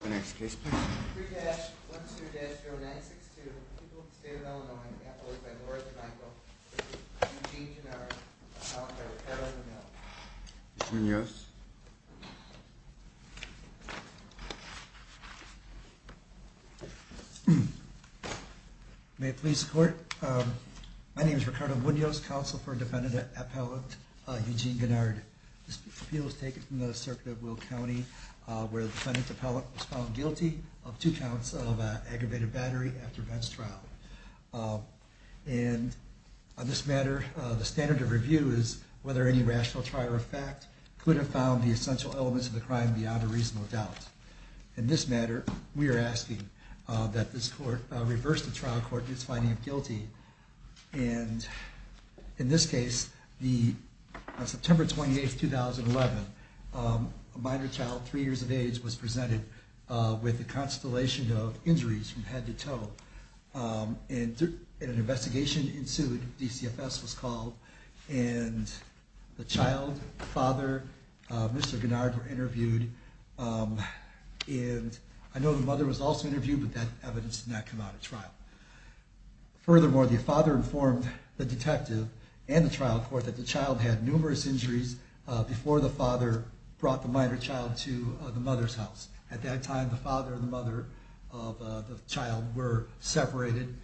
The next case is 3-12-0962, People of the State of Illinois, appellate by Laura D'Amico v. Eugene Guenard, appellate by Ricardo Munoz. May it please the Court, my name is Ricardo Munoz, counsel for defendant appellate Eugene Guenard. This appeal was taken from the circuit of Will County, where the defendant appellate was found guilty of two counts of aggravated battery after a bench trial. And on this matter, the standard of review is whether any rational trial or fact could have found the essential elements of the crime beyond a reasonable doubt. In this matter, we are asking that this Court reverse the trial court in its finding of guilty. And in this case, on September 28, 2011, a minor child, three years of age, was presented with a constellation of injuries from head to toe. And an investigation ensued, DCFS was called, and the child, the father, Mr. Guenard were interviewed. And I know the mother was also interviewed, but that evidence did not come out at trial. Furthermore, the father informed the detective and the trial court that the child had numerous injuries before the father brought the minor child to the mother's house. At that time, the father and the mother of the child were separated.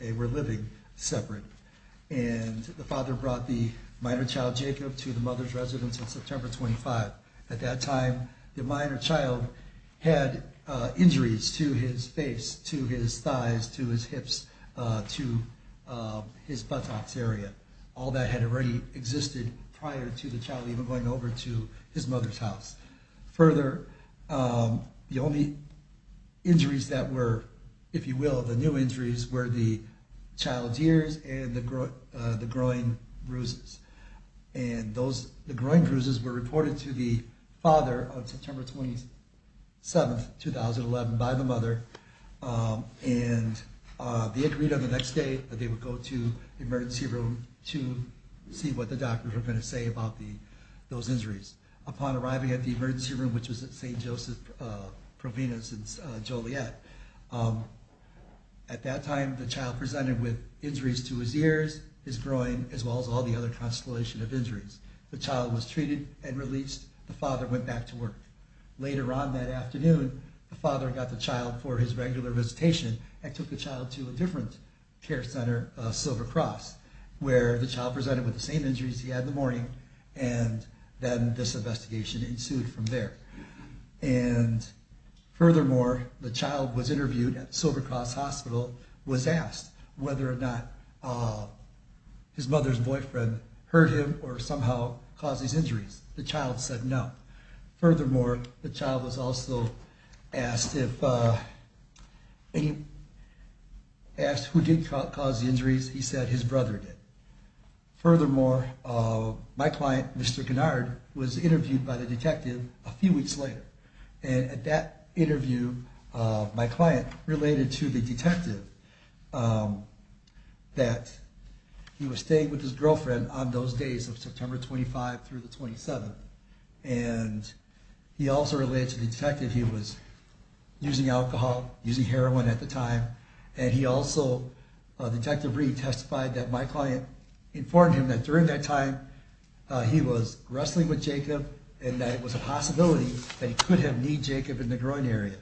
They were living separate. And the father brought the minor child, Jacob, to the mother's residence on September 25. At that time, the minor child had injuries to his face, to his thighs, to his hips, to his buttocks area. All that had already existed prior to the child even going over to his mother's house. Further, the only injuries that were, if you will, the new injuries were the child's ears and the groin bruises. And the groin bruises were reported to the father on September 27, 2011, by the mother. And they agreed on the next day that they would go to the emergency room to see what the doctors were going to say about those injuries. Upon arriving at the emergency room, which was at St. Joseph Provenance in Joliet, at that time the child presented with injuries to his ears, his groin, as well as all the other constellation of injuries. The child was treated and released. The father went back to work. Later on that afternoon, the father got the child for his regular visitation and took the child to a different care center, Silver Cross, where the child presented with the same injuries he had in the morning, and then this investigation ensued from there. And furthermore, the child was interviewed at Silver Cross Hospital, was asked whether or not his mother's boyfriend hurt him or somehow caused these injuries. The child said no. Furthermore, the child was also asked who did cause the injuries. He said his brother did. Furthermore, my client, Mr. Gennard, was interviewed by the detective a few weeks later. And at that interview, my client related to the detective that he was staying with his girlfriend on those days of September 25 through the 27th. And he also related to the detective he was using alcohol, using heroin at the time. And he also, Detective Reed, testified that my client informed him that during that time he was wrestling with Jacob and that it was a possibility that he could have kneed Jacob in the groin area.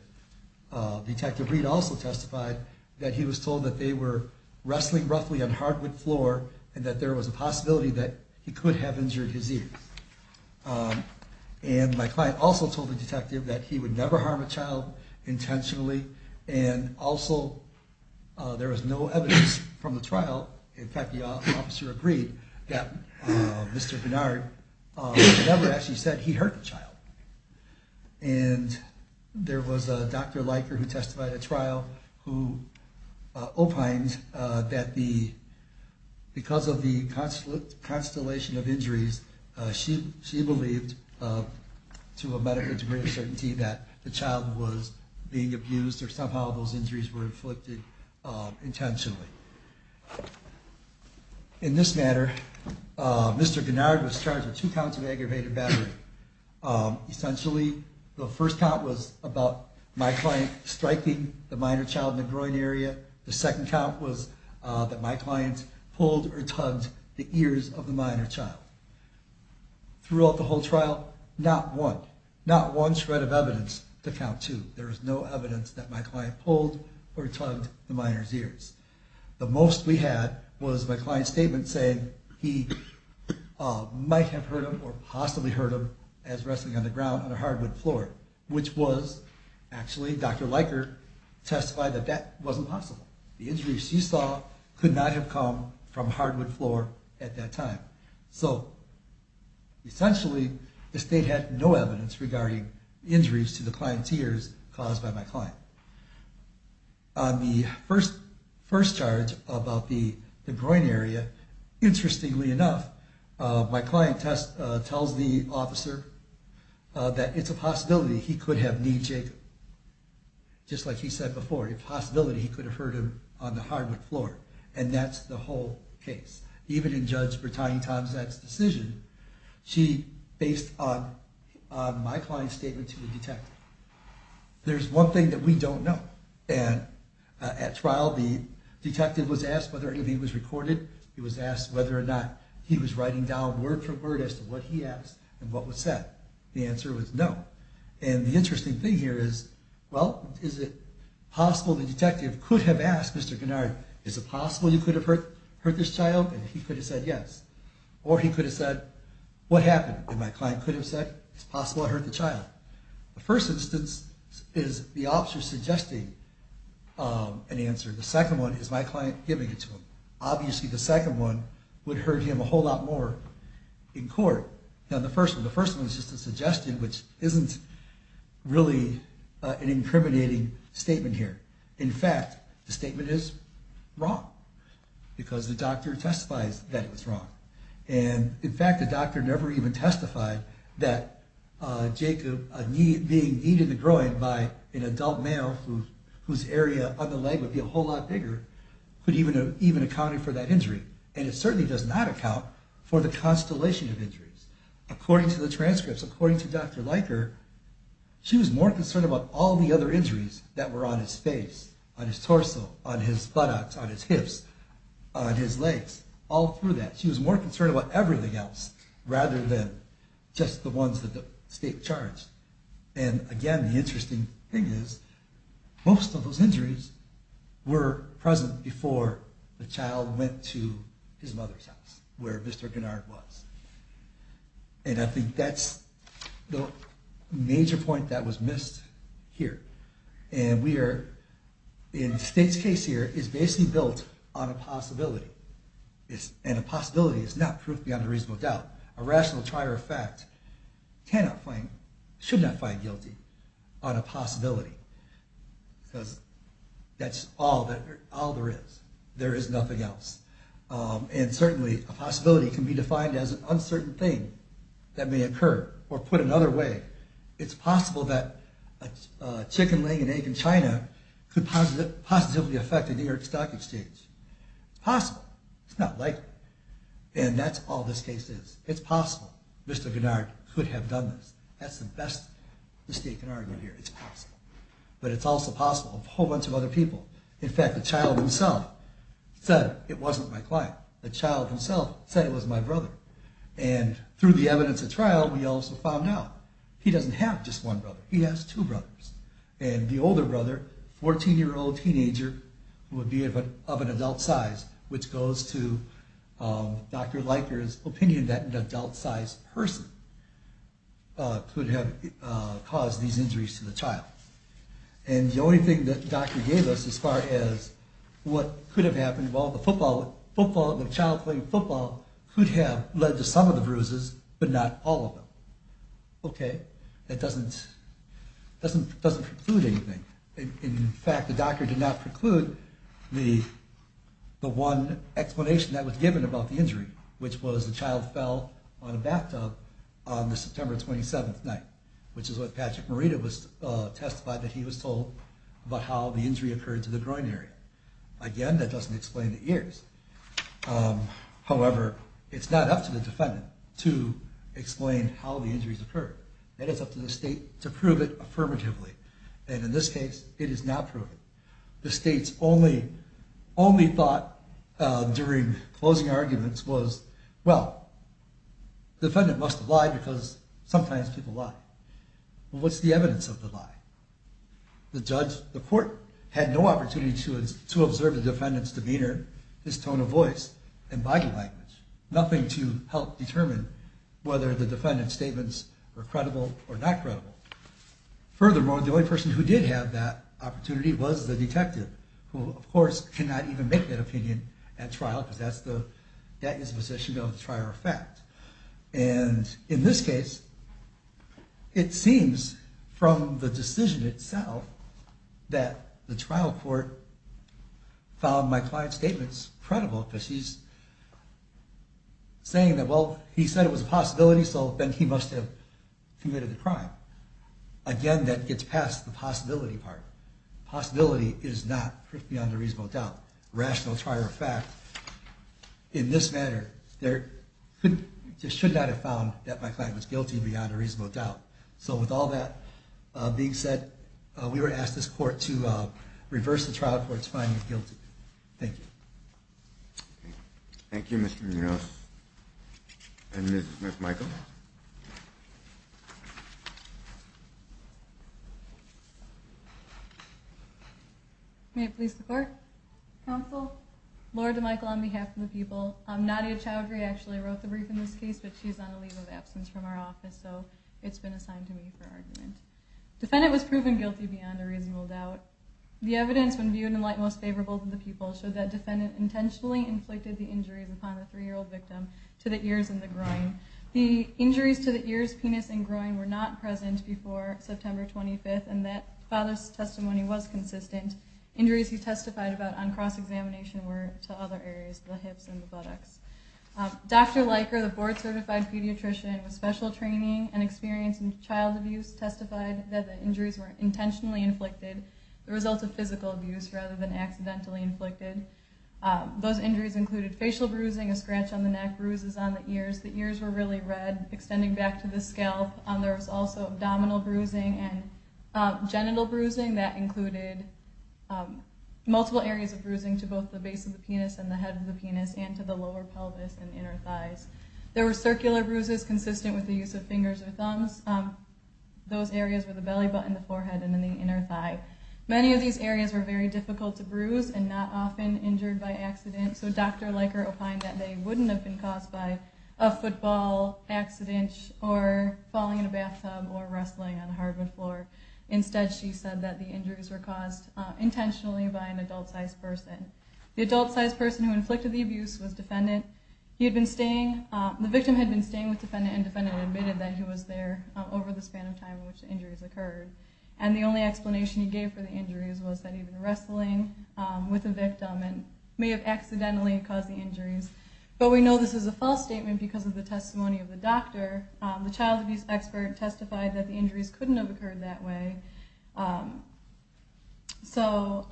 Detective Reed also testified that he was told that they were wrestling roughly on hardwood floor and that there was a possibility that he could have injured his ears. And my client also told the detective that he would never harm a child intentionally. And also, there was no evidence from the trial. In fact, the officer agreed that Mr. Gennard never actually said he hurt the child. And there was a Dr. Leiker who testified at trial who opined that because of the constellation of injuries, she believed to a medical degree of certainty that the child was being abused or somehow those injuries were inflicted intentionally. In this matter, Mr. Gennard was charged with two counts of aggravated battery. Essentially, the first count was about my client striking the minor child in the groin area. The second count was that my client pulled or tugged the ears of the minor child. Throughout the whole trial, not one, not one shred of evidence to count to. There was no evidence that my client pulled or tugged the minor's ears. The most we had was my client's statement saying he might have hurt him or possibly hurt him as wrestling on the ground on a hardwood floor, which was actually Dr. Leiker testified that that wasn't possible. The injuries she saw could not have come from a hardwood floor at that time. So essentially, the state had no evidence regarding injuries to the client's ears caused by my client. On the first charge about the groin area, interestingly enough, my client tells the officer that it's a possibility he could have kneed Jacob. Just like he said before, a possibility he could have hurt him on the hardwood floor. And that's the whole case. Even in Judge Brittany Tomczak's decision, she based on my client's statement to the detective. There's one thing that we don't know. At trial, the detective was asked whether anything was recorded. He was asked whether or not he was writing down word for word as to what he asked and what was said. The answer was no. And the interesting thing here is, well, is it possible the detective could have asked Mr. Gennari, is it possible you could have hurt this child? And he could have said yes. Or he could have said, what happened? And my client could have said, it's possible I hurt the child. The first instance is the officer suggesting an answer. The second one is my client giving it to him. Obviously, the second one would hurt him a whole lot more in court than the first one. The first one is just a suggestion, which isn't really an incriminating statement here. In fact, the statement is wrong because the doctor testifies that it was wrong. And in fact, the doctor never even testified that Jacob being kneed in the groin by an adult male whose area on the leg would be a whole lot bigger could even have accounted for that injury. And it certainly does not account for the constellation of injuries. According to the transcripts, according to Dr. Leiker, she was more concerned about all the other injuries that were on his face, on his torso, on his buttocks, on his hips, on his legs. All through that, she was more concerned about everything else rather than just the ones that the state charged. And again, the interesting thing is most of those injuries were present before the child went to his mother's house, where Mr. Gennard was. And I think that's the major point that was missed here. And we are, in the state's case here, is basically built on a possibility. And a possibility is not proof beyond a reasonable doubt. A rational trier of fact cannot find, should not find guilty on a possibility. Because that's all there is. There is nothing else. And certainly a possibility can be defined as an uncertain thing that may occur. Or put another way, it's possible that a chicken laying an egg in China could positively affect the New York Stock Exchange. It's possible. It's not likely. And that's all this case is. It's possible Mr. Gennard could have done this. That's the best the state can argue here. It's possible. But it's also possible a whole bunch of other people. In fact, the child himself said it wasn't my client. The child himself said it was my brother. And through the evidence at trial, we also found out he doesn't have just one brother. He has two brothers. And the older brother, a 14-year-old teenager who would be of an adult size, which goes to Dr. Leiker's opinion that an adult-sized person could have caused these injuries to the child. And the only thing that the doctor gave us as far as what could have happened, well, the child playing football could have led to some of the bruises, but not all of them. That doesn't preclude anything. In fact, the doctor did not preclude the one explanation that was given about the injury, which was the child fell on a bathtub on the September 27th night, which is what Patrick Morita testified that he was told about how the injury occurred to the groin area. Again, that doesn't explain the ears. However, it's not up to the defendant to explain how the injuries occurred. That is up to the state to prove it affirmatively. And in this case, it is not proven. The state's only thought during closing arguments was, well, the defendant must have lied because sometimes people lie. Well, what's the evidence of the lie? The judge, the court, had no opportunity to observe the defendant's demeanor, his tone of voice, and body language, nothing to help determine whether the defendant's statements were credible or not credible. Furthermore, the only person who did have that opportunity was the detective, who, of course, cannot even make that opinion at trial because that is the position of the trial of fact. And in this case, it seems from the decision itself that the trial court found my client's statements credible because he's saying that, well, he said it was a possibility, so then he must have committed the crime. Again, that gets past the possibility part. Possibility is not beyond a reasonable doubt. Rational trial of fact, in this manner, they should not have found that my client was guilty beyond a reasonable doubt. So with all that being said, we would ask this court to reverse the trial court's finding of guilty. Thank you. Thank you, Mr. Munoz. And Ms. Michael? May it please the court? Counsel? Laura DeMichael on behalf of the people. Nadia Chowdhury actually wrote the brief in this case, but she's on a leave of absence from our office, so it's been assigned to me for argument. Defendant was proven guilty beyond a reasonable doubt. The evidence, when viewed in light most favorable to the people, showed that defendant intentionally inflicted the injuries upon the three-year-old victim to the ears and the groin. The injuries to the ears, penis, and groin were not present before September 25th, and that father's testimony was consistent. Injuries he testified about on cross-examination were to other areas, the hips and the buttocks. Dr. Leiker, the board-certified pediatrician with special training and experience in child abuse, testified that the injuries were intentionally inflicted, the result of physical abuse rather than accidentally inflicted. Those injuries included facial bruising, a scratch on the neck, bruises on the ears. The ears were really red, extending back to the scalp. There was also abdominal bruising and genital bruising. That included multiple areas of bruising to both the base of the penis and the head of the penis and to the lower pelvis and inner thighs. There were circular bruises consistent with the use of fingers or thumbs. Those areas were the belly button, the forehead, and then the inner thigh. Many of these areas were very difficult to bruise and not often injured by accident, so Dr. Leiker opined that they wouldn't have been caused by a football accident or falling in a bathtub or wrestling on a hardwood floor. Instead, she said that the injuries were caused intentionally by an adult-sized person. The adult-sized person who inflicted the abuse was defendant. The victim had been staying with defendant and defendant admitted that he was there over the span of time in which the injuries occurred. And the only explanation he gave for the injuries was that he'd been wrestling with the victim and may have accidentally caused the injuries. But we know this is a false statement because of the testimony of the doctor. The child abuse expert testified that the injuries couldn't have occurred that way. So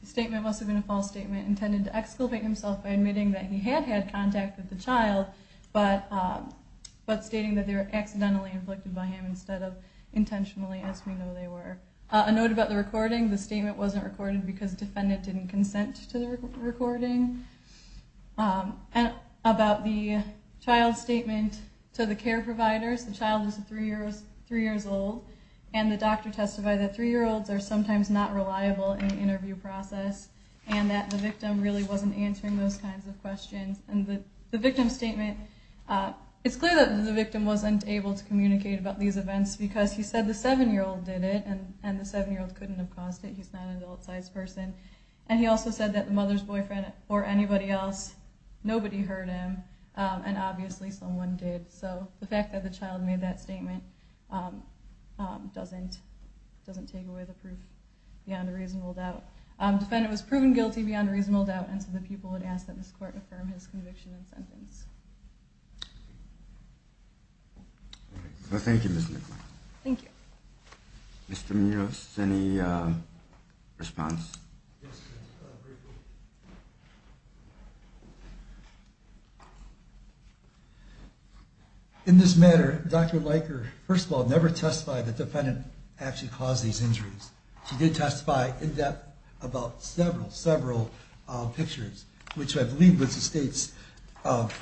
the statement must have been a false statement intended to exculpate himself by admitting that he had had contact with the child but stating that they were accidentally inflicted by him instead of intentionally, as we know they were. A note about the recording. The statement wasn't recorded because defendant didn't consent to the recording. About the child's statement to the care providers, the child was three years old, and the doctor testified that three-year-olds are sometimes not reliable in the interview process and that the victim really wasn't answering those kinds of questions. And the victim's statement, it's clear that the victim wasn't able to communicate about these events because he said the seven-year-old did it, and the seven-year-old couldn't have caused it. He's not an adult-sized person. And he also said that the mother's boyfriend or anybody else, nobody heard him, and obviously someone did. So the fact that the child made that statement doesn't take away the proof beyond a reasonable doubt. Defendant was proven guilty beyond a reasonable doubt, and so the people would ask that this court affirm his conviction and sentence. Thank you, Ms. Nicholai. Thank you. Mr. Munoz, any response? In this matter, Dr. Leiker, first of all, never testified that the defendant actually caused these injuries. She did testify in depth about several, several pictures, which I believe is the state's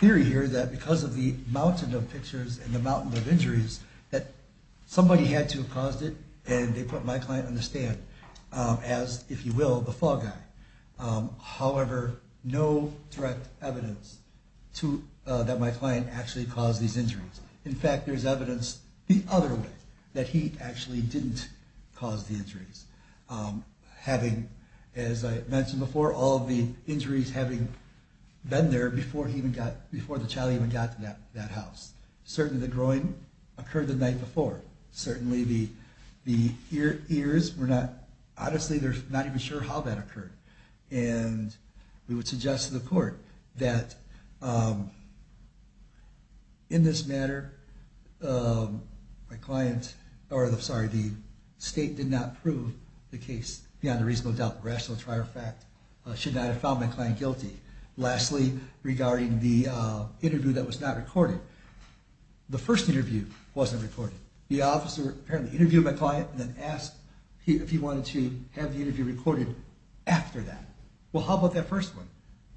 theory here that because of the mountain of pictures and the mountain of injuries that somebody had to have caused it, and they put my client on the stand as, if you will, the fall guy. However, no direct evidence that my client actually caused these injuries. In fact, there's evidence the other way, that he actually didn't cause the injuries. Having, as I mentioned before, all of the injuries having been there before the child even got to that house. Certainly the groin occurred the night before. Certainly the ears were not, honestly, they're not even sure how that occurred. And we would suggest to the court that in this matter, my client, or sorry, the state did not prove the case beyond a reasonable doubt. Rational trial fact should not have found my client guilty. Lastly, regarding the interview that was not recorded. The first interview wasn't recorded. The officer apparently interviewed my client and then asked if he wanted to have the interview recorded after that. Well, how about that first one?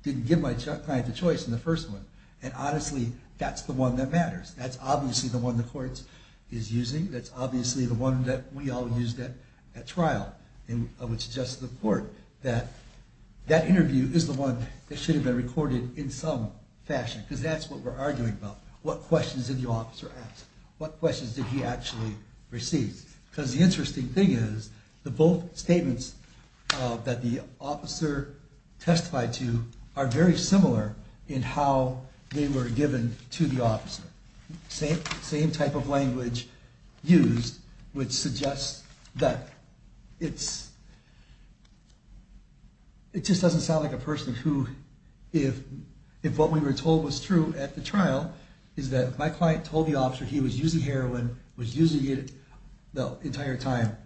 Didn't give my client the choice in the first one. And honestly, that's the one that matters. That's obviously the one the court is using. That's obviously the one that we all used at trial. And I would suggest to the court that that interview is the one that should have been recorded in some fashion. Because that's what we're arguing about. What questions did the officer ask? What questions did he actually receive? Because the interesting thing is, the both statements that the officer testified to are very similar in how they were given to the officer. Same type of language used would suggest that it's, it just doesn't sound like a person who, if what we were told was true at the trial, is that my client told the officer he was using heroin, was using it the entire time.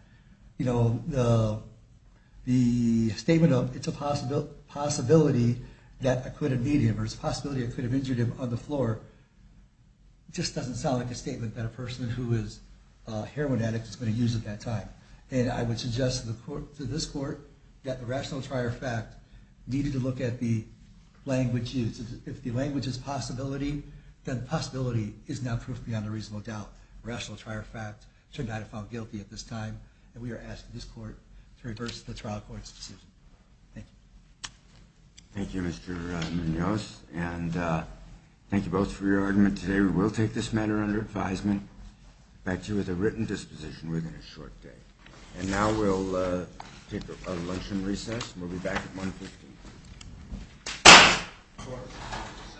The statement of, it's a possibility that I could have hit him, or it's a possibility I could have injured him on the floor, just doesn't sound like a statement that a person who is a heroin addict is going to use at that time. And I would suggest to this court that the rational trial fact needed to look at the language used. If the language is possibility, then possibility is not proof beyond a reasonable doubt. Rational trial fact should not have found guilty at this time. And we are asking this court to reverse the trial court's decision. Thank you. Thank you, Mr. Munoz. And thank you both for your argument today. We will take this matter under advisement. Back to you with a written disposition within a short day. And now we'll take a luncheon recess. We'll be back at 1.15.